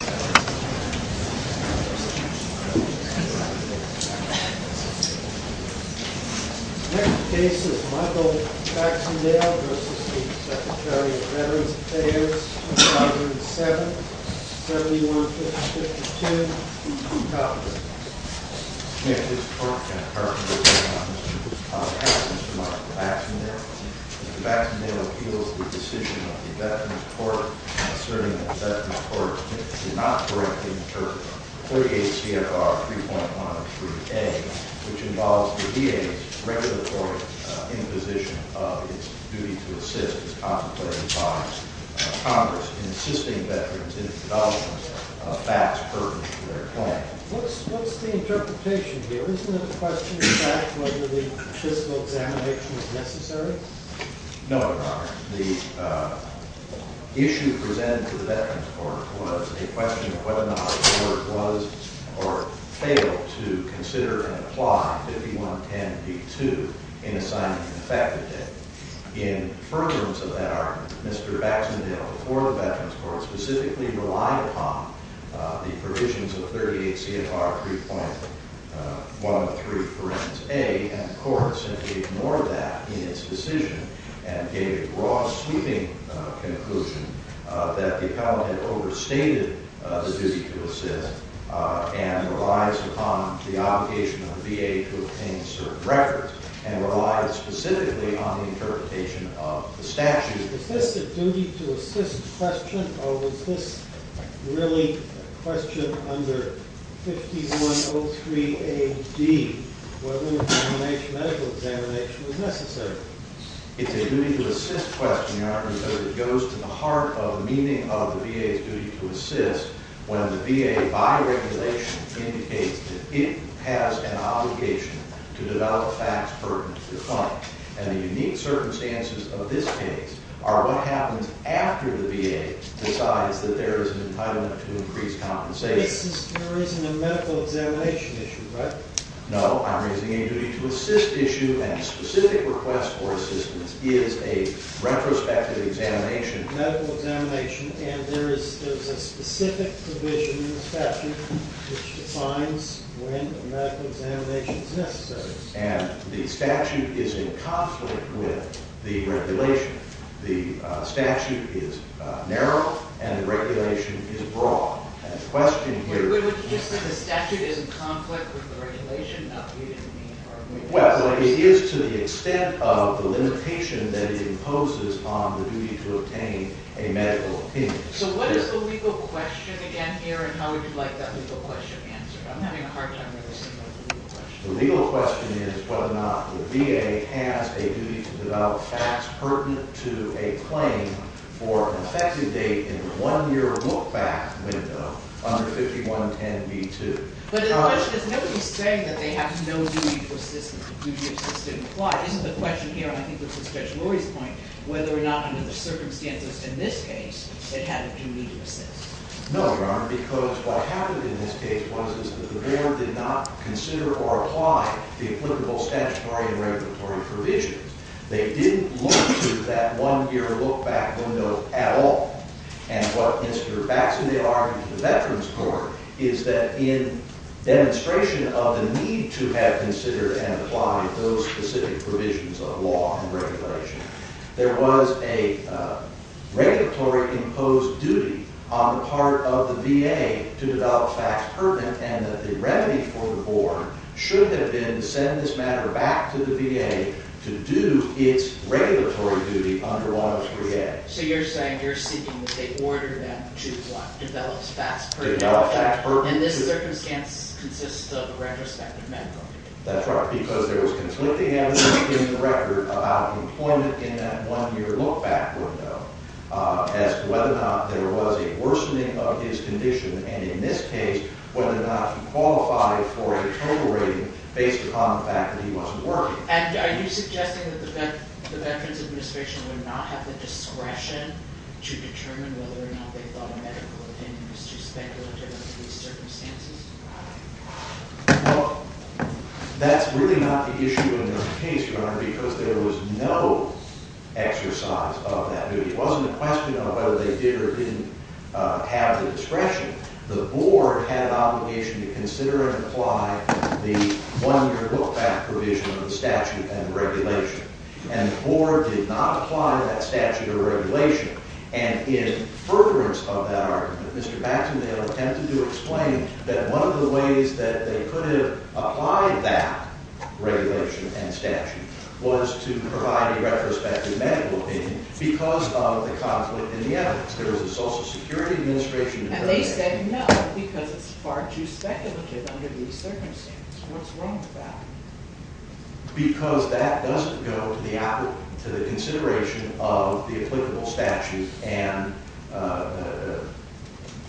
The next case is Michael Baxendale v. Secretary of Veterans Affairs, 2007, 7152, Utah, Virginia. Mr. Chairman, this court can confirm that Mr. Thompson has Mr. Michael Baxendale. Mr. Baxendale appeals the decision of the Veterans Court in asserting that the Veterans Court did not correctly interpret 48 CFR 3.1 of Suite A, which involves the VA's regulatory imposition of its duty to assist its contemplating partners, Congress, in assisting veterans in indulgence of facts pertinent to their claim. What's the interpretation here? Isn't it a question of fact whether the fiscal examination is necessary? No, Your Honor. The issue presented to the Veterans Court was a question of whether or not the court was or failed to consider and apply 5110b-2 in assignment to the faculty. In furtherance of that argument, Mr. Baxendale before the Veterans Court specifically relied upon the provisions of 38 CFR 3.1 of 3, for instance, A, and the court simply ignored that in its decision and gave a raw, sweeping conclusion that the appellant had overstated the duty to assist and relies upon the obligation of the VA to obtain certain records and relies specifically on the interpretation of the statute. Is this a duty to assist question or was this really a question under 5103a-d, whether medical examination was necessary? It's a duty to assist question, Your Honor, because it goes to the heart of the meaning of the VA's duty to assist when the VA, by regulation, indicates that it has an obligation to develop facts pertinent to the claim. And the unique circumstances of this case are what happens after the VA decides that there is an entitlement to increased compensation. This is in the reason of medical examination issue, right? No, I'm raising a duty to assist issue, and a specific request for assistance is a retrospective examination. Medical examination, and there is a specific provision in the statute which defines when a medical examination is necessary. And the statute is in conflict with the regulation. The statute is narrow and the regulation is broad. Would you just say the statute is in conflict with the regulation? Well, it is to the extent of the limitation that it imposes on the duty to obtain a medical opinion. So what is the legal question again here, and how would you like that legal question answered? I'm having a hard time with this legal question. The legal question is whether or not the VA has a duty to develop facts pertinent to a claim for an effective date in the one-year look-back window under 5110b2. But the question is, nobody is saying that they have no duty for assistance. Isn't the question here, and I think this is Judge Lori's point, whether or not under the circumstances in this case, it had a duty to assist? No, Your Honor, because what happened in this case was that the board did not consider or apply the applicable statutory and regulatory provisions. They didn't look to that one-year look-back window at all. And what inspired back to the argument of the Veterans Court is that in demonstration of the need to have considered and applied those specific provisions of law and regulation, there was a regulatory-imposed duty on the part of the VA to develop facts pertinent, and that the remedy for the board should have been to send this matter back to the VA to do its regulatory duty under 103A. So you're saying you're seeking that they order them to develop facts pertinent. Develop facts pertinent. And this circumstance consists of a retrospective memo. That's right, because there was conflicting evidence in the record about employment in that one-year look-back window as to whether or not there was a worsening of his condition and, in this case, whether or not he qualified for a total rating based upon the fact that he wasn't working. And are you suggesting that the Veterans Administration would not have the discretion to determine whether or not they thought a medical opinion was too speculative under these circumstances? Well, that's really not the issue in this case, Your Honor, because there was no exercise of that duty. It wasn't a question of whether they did or didn't have the discretion. The board had an obligation to consider and apply the one-year look-back provision of the statute and regulation, and the board did not apply that statute or regulation. And in furtherance of that argument, Mr. Baxton and I have attempted to explain that one of the ways that they could have applied that regulation and statute was to provide a retrospective medical opinion because of the conflict in the evidence. And they said no because it's far too speculative under these circumstances. What's wrong with that? Because that doesn't go to the consideration of the applicable statute and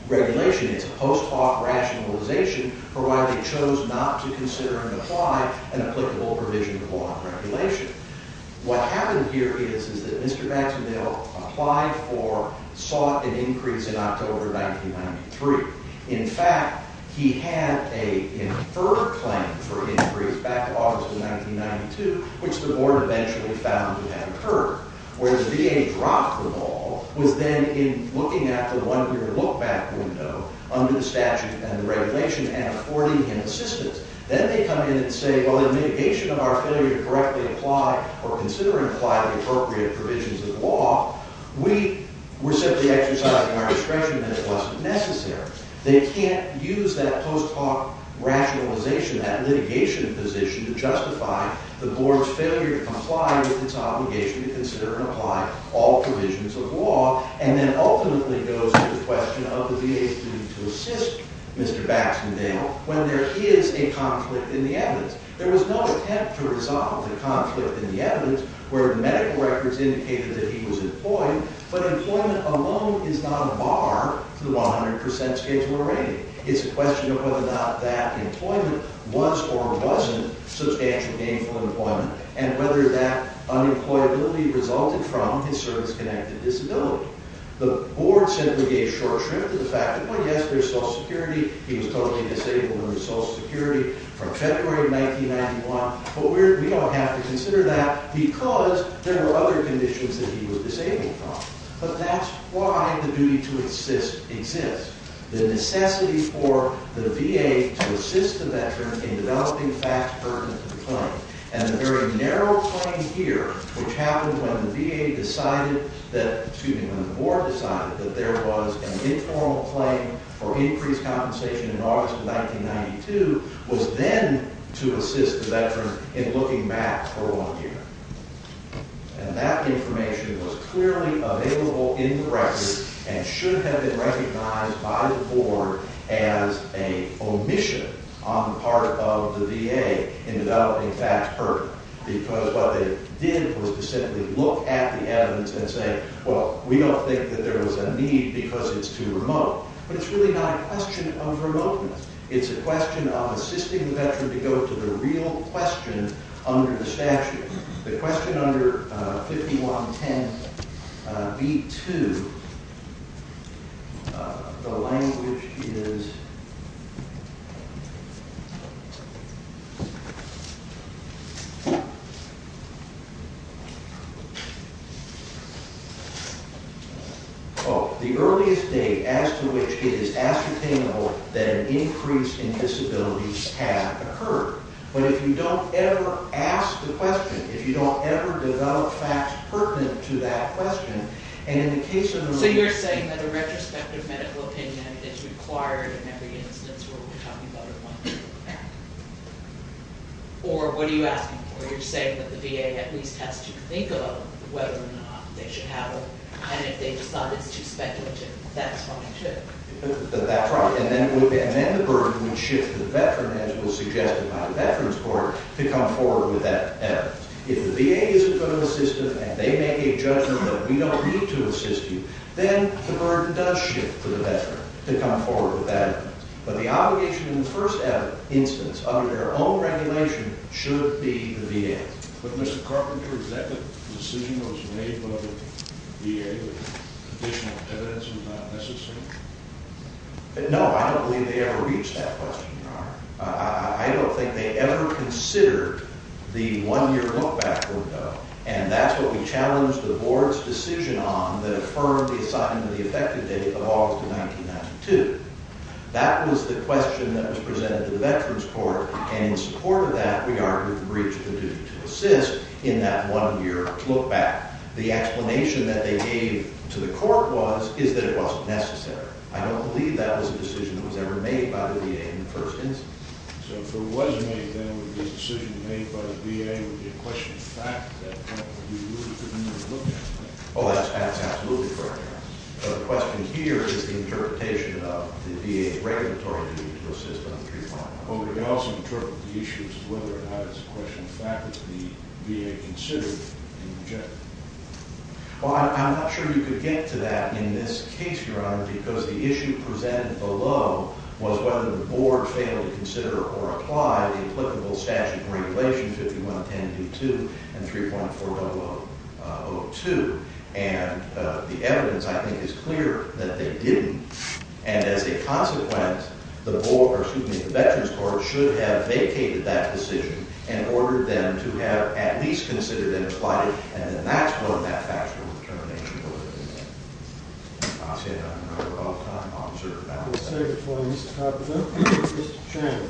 regulation. It's a post hoc rationalization for why they chose not to consider and apply an applicable provision of law and regulation. What happened here is that Mr. Baxton, though, applied for, sought an increase in October 1993. In fact, he had an inferred claim for increase back in August of 1992, which the board eventually found to have occurred. Where the VA dropped the ball was then in looking at the one-year look-back window under the statute and regulation and affording him assistance. Then they come in and say, well, in mitigation of our failure to correctly apply or consider and apply the appropriate provisions of law, we were simply exercising our discretion and it wasn't necessary. They can't use that post hoc rationalization, that litigation position to justify the board's failure to comply with its obligation to consider and apply all provisions of law. And then ultimately goes to the question of the VA's need to assist Mr. Baxton Dale when there is a conflict in the evidence. There was no attempt to resolve the conflict in the evidence where the medical records indicated that he was employed, but employment alone is not a bar to the 100% schedule of rating. It's a question of whether or not that employment was or wasn't substantially gainful employment and whether that unemployability resulted from his service-connected disability. The board simply gave short shrift to the fact that, well, yes, there's Social Security. He was totally disabled under Social Security from February of 1991, but we don't have to consider that because there were other conditions that he was disabled from. But that's why the duty to assist exists. The necessity for the VA to assist the veteran in developing facts pertinent to the claim. And the very narrow claim here, which happened when the VA decided that, excuse me, when the board decided that there was an informal claim for increased compensation in August of 1992, was then to assist the veteran in looking back for one year. And that information was clearly available in the records and should have been recognized by the board as an omission on the part of the VA in developing facts pertinent because what they did was to simply look at the evidence and say, well, we don't think that there was a need because it's too remote. But it's really not a question of remoteness. It's a question of assisting the veteran to go to the real question under the statute. The question under 5110B2, the language is... Oh, the earliest date as to which it is ascertainable that an increase in disability has occurred. But if you don't ever ask the question, if you don't ever develop facts pertinent to that question, and in the case of... So you're saying that a retrospective medical opinion is required in every instance where we're talking about a one-year fact. Or what are you asking for? You're saying that the VA at least has to think about whether or not they should have it, and if they decide it's too speculative, that's why they should. That's right. And then the burden would shift to the veteran, as was suggested by the Veterans Court, to come forward with that evidence. If the VA isn't going to assist with that, they make a judgment that we don't need to assist you, then the burden does shift to the veteran to come forward with that evidence. But the obligation in the first instance, under their own regulation, should be the VA. But Mr. Carpenter, is that the decision that was made by the VA that additional evidence was not necessary? No, I don't believe they ever reached that question, Your Honor. I don't think they ever considered the one-year lookback window, and that's what we challenged the Board's decision on that affirmed the assignment of the effective date of August of 1992. That was the question that was presented to the Veterans Court, and in support of that, we argued the breach of the duty to assist in that one-year lookback. The explanation that they gave to the court was, is that it wasn't necessary. I don't believe that was a decision that was ever made by the VA in the first instance. So if it was made, then this decision made by the VA would be a question of fact at that point, but we really couldn't even look at that. Oh, that's absolutely correct, Your Honor. The question here is the interpretation of the VA's regulatory duty to assist on 3.00. But we also interpret the issue as whether or not it's a question of fact that the VA considered and rejected. Well, I'm not sure you could get to that in this case, Your Honor, because the issue presented below was whether the Board failed to consider or apply the applicable statute of regulations, 51.10.2.2 and 3.4002. And the evidence, I think, is clear that they didn't. And as a consequence, the Veterans Court should have vacated that decision and ordered them to have at least considered and applied it, and then that's when that factual determination would have been made. I'll say that one more time. I'll observe that. I'll say it before Mr. Carpenter and Mr. Chairman.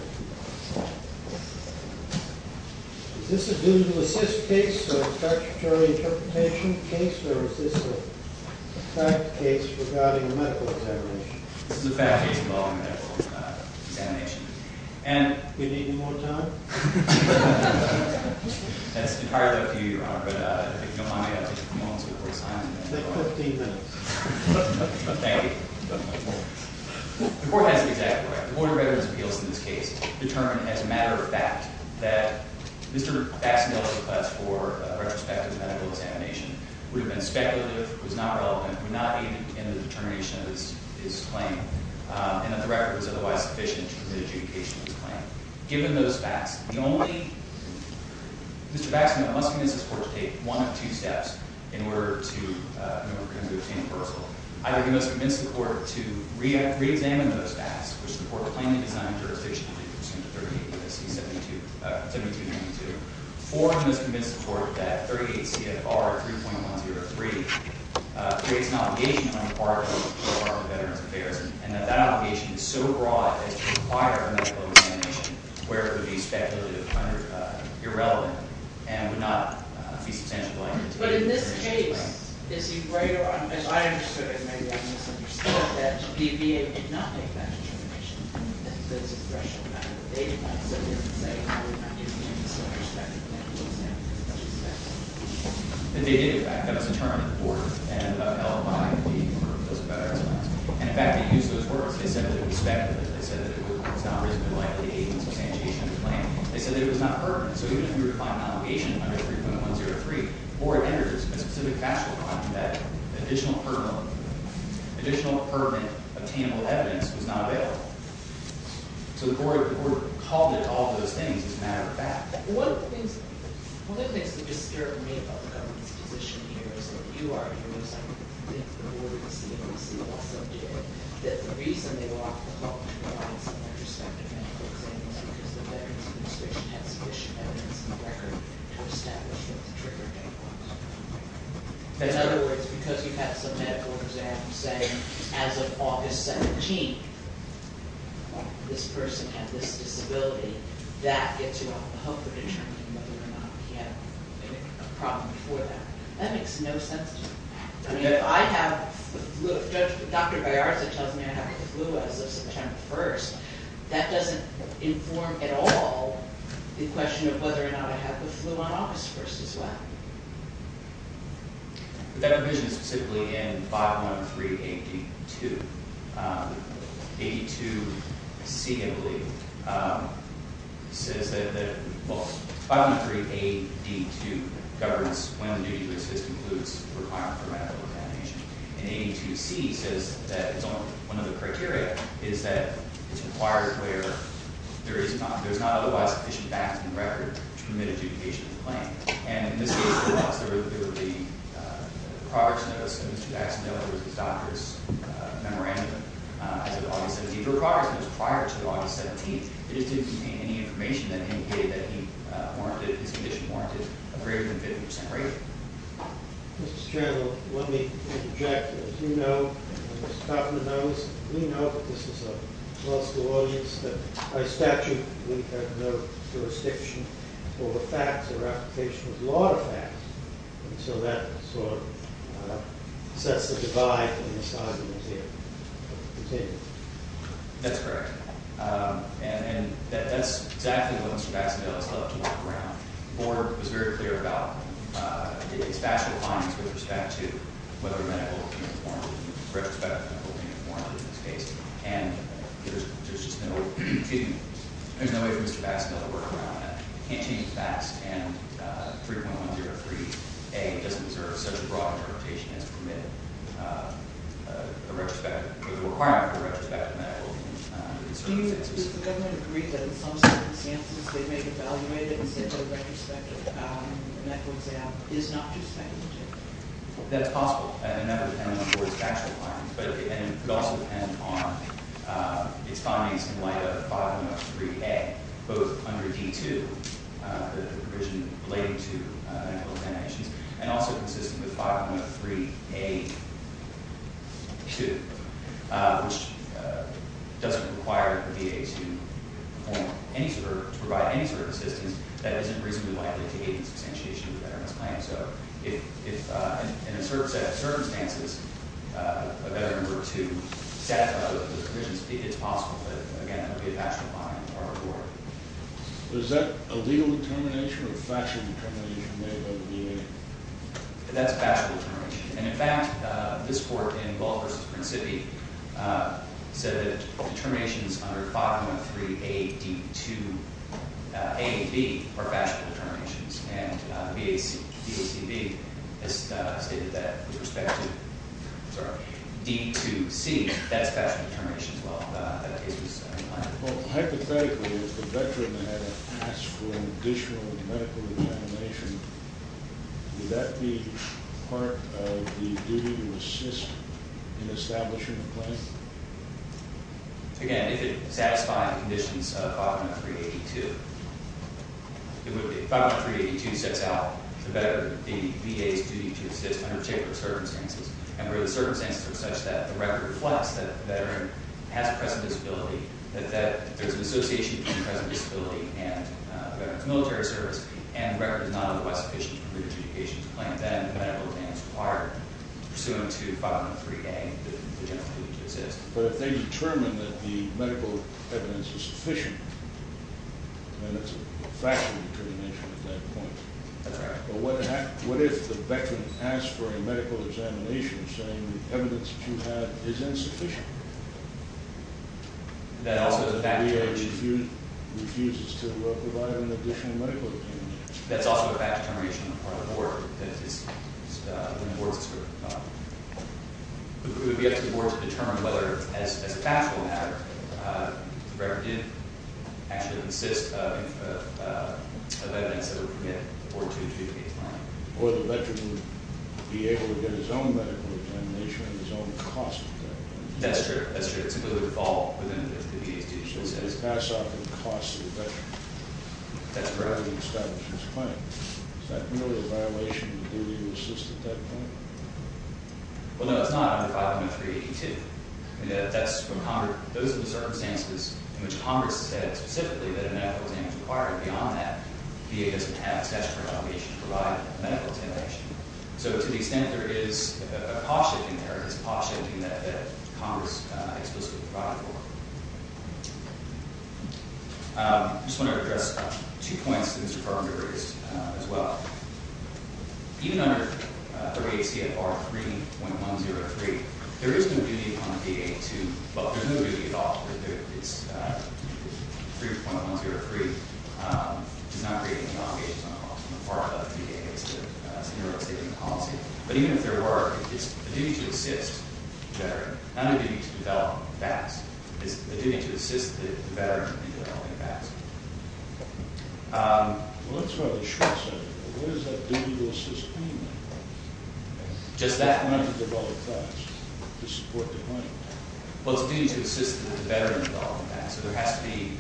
Is this a due-to-assist case or a statutory interpretation case, or is this a fact case regarding a medical examination? This is a fact case involving a medical examination. Do we need any more time? That's entirely up to you, Your Honor. But if you don't mind, may I take a few moments before we sign? You have 15 minutes. Thank you. The Court has the exact right. The Board of Veterans Appeals in this case determined as a matter of fact that Mr. Baxnell's request for a retrospective medical examination would have been speculative, was not relevant, would not be in the determination of his claim, and that the record was otherwise sufficient to commit adjudication of his claim. Given those facts, Mr. Baxnell must convince his Court to take one of two steps in order to obtain a reversal. Either he must convince the Court to reexamine those facts, which the Court plainly designed jurisdictionally pursuant to 38 U.S.C. 7292, or he must convince the Court that 38 CFR 3.103 creates an obligation on the part of the Department of Veterans Affairs and that that obligation is so broad as to require a medical examination where it would be speculative, irrelevant, and would not be substantially likely to be. But in this case, is he right or wrong? As I understood it, maybe I misunderstood that. The VA did not make that determination. That's a threshold matter. They did not say, oh, we're not giving you a retrospective medical examination. They did, in fact. That was determined at the Board and held by the Department of Veterans Affairs. And in fact, they used those words. They said that it was speculative. They said that it was not reasonably likely to be a substantiation of the claim. They said that it was not permanent. So even if you were to find an obligation under 3.103, or it enters a specific factual claim that additional permanent obtainable evidence was not available. So the Board called it all those things as a matter of fact. One of the things that disturbed me about the government's position here is that you argue, as I think the Board and the CDC also did, that the reason they would offer the call to provide some retrospective medical examination is because the Veterans Administration had sufficient evidence and record to establish that the trigger came last. In other words, because you had some medical exam, say, as of August 17th, this person had this disability. That gets you off the hook of determining whether or not he had a problem before that. That makes no sense to me. I mean, if I have the flu, if Dr. Baerza tells me I have the flu as of September 1st, that doesn't inform at all the question of whether or not I have the flu on August 1st as well. But that provision is specifically in 513AD2. AD2C, I believe, says that, well, 513AD2 governs when the duty to assist includes requirement for medical examination. And AD2C says that it's only one of the criteria, is that it's required where there is not, there's not otherwise sufficient background record to permit adjudication of the claim. And in this case, there was. There were the progress notes, and Mr. Jackson knows there was his doctor's memorandum as of August 17th. There were progress notes prior to August 17th, but it didn't contain any information that indicated that he warranted, his condition warranted, a greater than 50% rate. Mr. Chairman, let me interject. As you know, and Mr. Kaufman knows, we know, but this is a law school audience, that by statute we have no jurisdiction over facts. There are applications of a lot of facts. And so that sort of sets the divide in the asylum museum. That's correct. And that's exactly what Mr. Bassendale has helped to work around. Moore was very clear about his factual findings with respect to whether medical can be informed, retrospectively informed in this case. And there's just no, excuse me, there's no way for Mr. Bassendale to work around that. He can't change the facts, and 3.103A doesn't deserve such a broad interpretation as to permit a retrospective, or the requirement for a retrospective medical in certain cases. Do you, does the government agree that in some circumstances, they may have evaluated and said to a retrospective, and that's what they have, is not just factual? That's possible, and that depends on Moore's factual findings. And it also depends on its findings in light of 5.103A, both under D-2, the provision relating to medical examinations, and also consistent with 5.103A-2, which doesn't require the VA to provide any sort of assistance that isn't reasonably likely to aid in substantiation of the veterans' claim. So if, in a certain set of circumstances, a veteran were to satisfy those provisions, it's possible. But again, that would be a factual finding for our court. Is that a legal determination or a factual determination made by the VA? That's a factual determination. And in fact, this court in Bull v. Principi said that determinations under 5.103A, D-2, A and B are factual determinations. And VACB has stated that with respect to D-2C. That's a factual determination as well. Well, hypothetically, if the veteran had to ask for additional medical examination, would that be part of the duty to assist in establishing a claim? Again, if it satisfied the conditions of 5.103A-2, it would be. If 5.103A-2 sets out the VA's duty to assist under particular circumstances, and where the circumstances are such that the record reflects that the veteran has a present disability, that there's an association between present disability and a veteran's military service, and the record is not otherwise sufficient for the adjudication of the claim, then the medical exam is required pursuant to 5.103A, the general duty to assist. But if they determine that the medical evidence is sufficient, then it's a factual determination at that point. All right. But what if the veteran asks for a medical examination saying the evidence that you have is insufficient? That also is a fact determination. The VA refuses to provide an additional medical examination. That's also a fact determination on the part of the board. It would be up to the board to determine whether, as a factual matter, the record did actually consist of evidence that would permit the board to adjudicate the claim. Or the veteran would be able to get his own medical examination at his own cost at that point. That's true. That's true. It simply would fall within the VA's duty to assist. It would pass off at the cost of the veteran. That's correct. Is that really a violation of the duty to assist at that point? Well, no, it's not under 5.382. Those are the circumstances in which Congress has said specifically that a medical examination is required. Beyond that, the VA doesn't have a statutory obligation to provide a medical examination. So to the extent there is a cost-shifting there, it is a cost-shifting that Congress explicitly provides for. I just want to address two points that Mr. Farber raised as well. Even under 38 CFR 3.103, there is no duty on the VA to – well, there's no duty at all. 3.103 does not create any obligations on the VA as part of the VA's scenario statement policy. But even if there were, it's a duty to assist the veteran, not a duty to develop facts. It's a duty to assist the veteran in developing facts. Well, that's what I was short-circuiting. What is that duty to assist claimant? Just that point. It's not to develop facts. It's to support the claimant. Well, it's a duty to assist the veteran in developing facts. So there has to be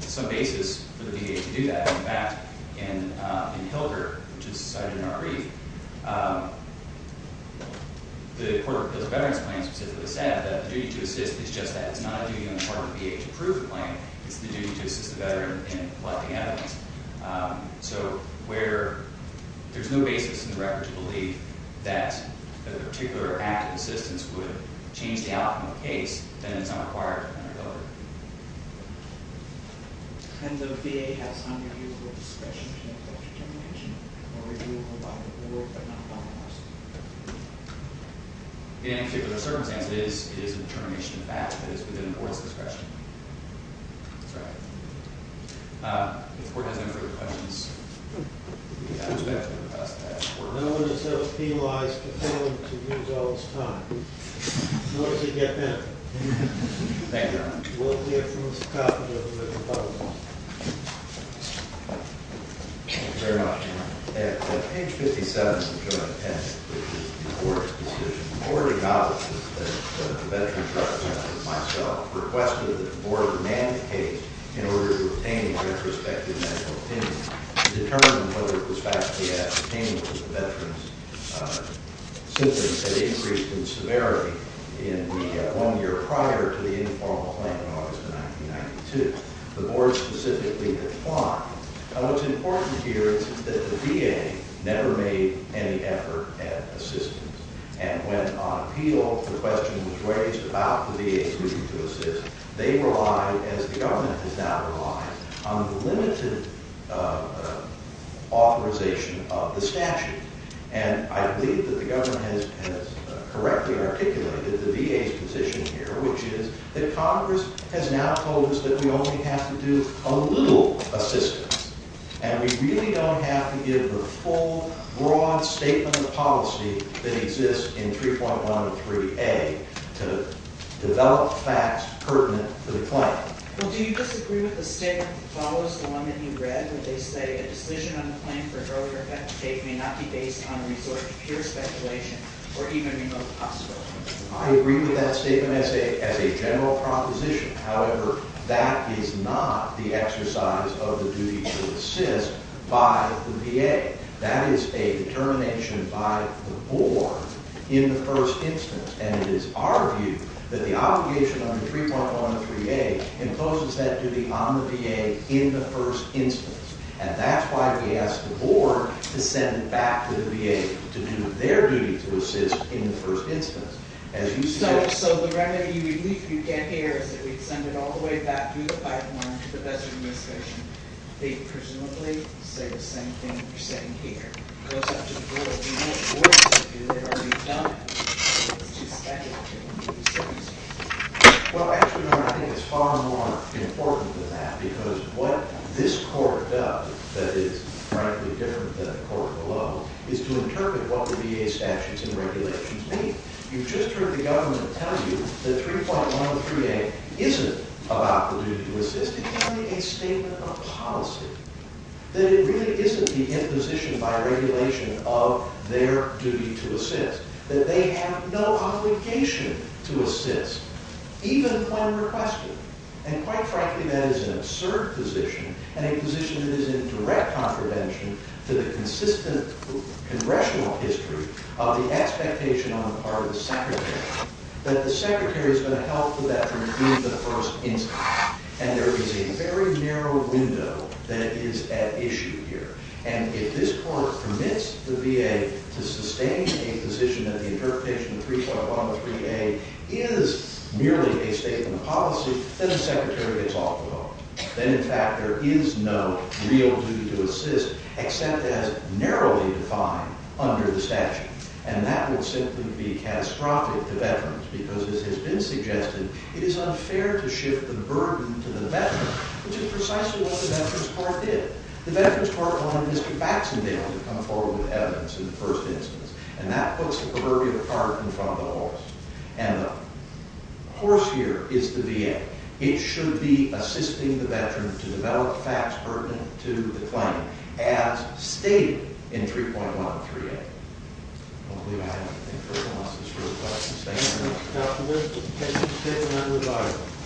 some basis for the VA to do that. In fact, in Hilder, which is cited in our brief, the Court of Appeals of Veterans Claims specifically said that the duty to assist is just that. It's not a duty on the part of the VA to prove the claim. It's the duty to assist the veteran in collecting evidence. So where there's no basis in the record to believe that a particular act of assistance would change the outcome of the case, then it's not required under Hilder. And the VA has unreviewable discretion to make that determination, or reviewable by the Board, but not by us? In any particular circumstance, it is a determination of that. It is within the Board's discretion. That's right. If the Board has any further questions, we'd be happy to address that. No one has ever penalized a claimant to use all this time. What does it get them? Thank you, Your Honor. Thank you very much, Your Honor. At page 57 of the Joint Attendance, which is the Board's decision, the Board acknowledges that the veterans, like myself, requested that the Board mandate in order to obtain a retrospective medical opinion. To determine whether it was factually ascertainable that the veterans' symptoms had increased in severity in the one year prior to the informal claim in August of 1992. The Board specifically declined. Now, what's important here is that the VA never made any effort at assistance. And when on appeal, the question was raised about the VA's duty to assist. They relied, as the government has now relied, on the limited authorization of the statute. And I believe that the government has correctly articulated the VA's position here, which is that Congress has now told us that we only have to do a little assistance. And we really don't have to give the full, broad statement of policy that exists in 3.103A to develop facts pertinent to the claim. Well, do you disagree with the statement that follows the one that you read, where they say a decision on a claim for earlier effect of fate may not be based on resort to pure speculation or even remote possibility? I agree with that statement as a general proposition. However, that is not the exercise of the duty to assist by the VA. That is a determination by the Board in the first instance. And it is our view that the obligation under 3.103A imposes that duty on the VA in the first instance. And that's why we asked the Board to send it back to the VA to do their duty to assist in the first instance. So the remedy you get here is that we send it all the way back through the pipeline to the best of your discretion. They presumably say the same thing you're saying here. It goes out to the Board. We know what we're supposed to do. They've already done it. So it's too speculative. Well, actually, I think it's far more important than that. Because what this Court does that is frankly different than the Court below is to interpret what the VA statutes and regulations mean. You've just heard the government tell you that 3.103A isn't about the duty to assist. It's only a statement of policy, that it really isn't the imposition by regulation of their duty to assist, that they have no obligation to assist, even when requested. And quite frankly, that is an absurd position and a position that is in direct contravention to the consistent congressional history of the expectation on the part of the Secretary that the Secretary is going to help the veteran in the first instance. And there is a very narrow window that is at issue here. And if this Court permits the VA to sustain a position that the interpretation of 3.103A is merely a statement of policy, then the Secretary gets off the hook. Then, in fact, there is no real duty to assist except as narrowly defined under the statute. And that would simply be catastrophic to veterans. Because as has been suggested, it is unfair to shift the burden to the veteran, which is precisely what the Veterans Court did. The Veterans Court wanted Mr. Baxendale to come forward with evidence in the first instance. And that puts the burden apart in front of the horse. And the horse here is the VA. It should be assisting the veteran to develop facts pertinent to the claim, as stated in 3.103A. I don't believe I have anything further. Unless there's further questions, thank you very much. Thank you, Mr. Chairman.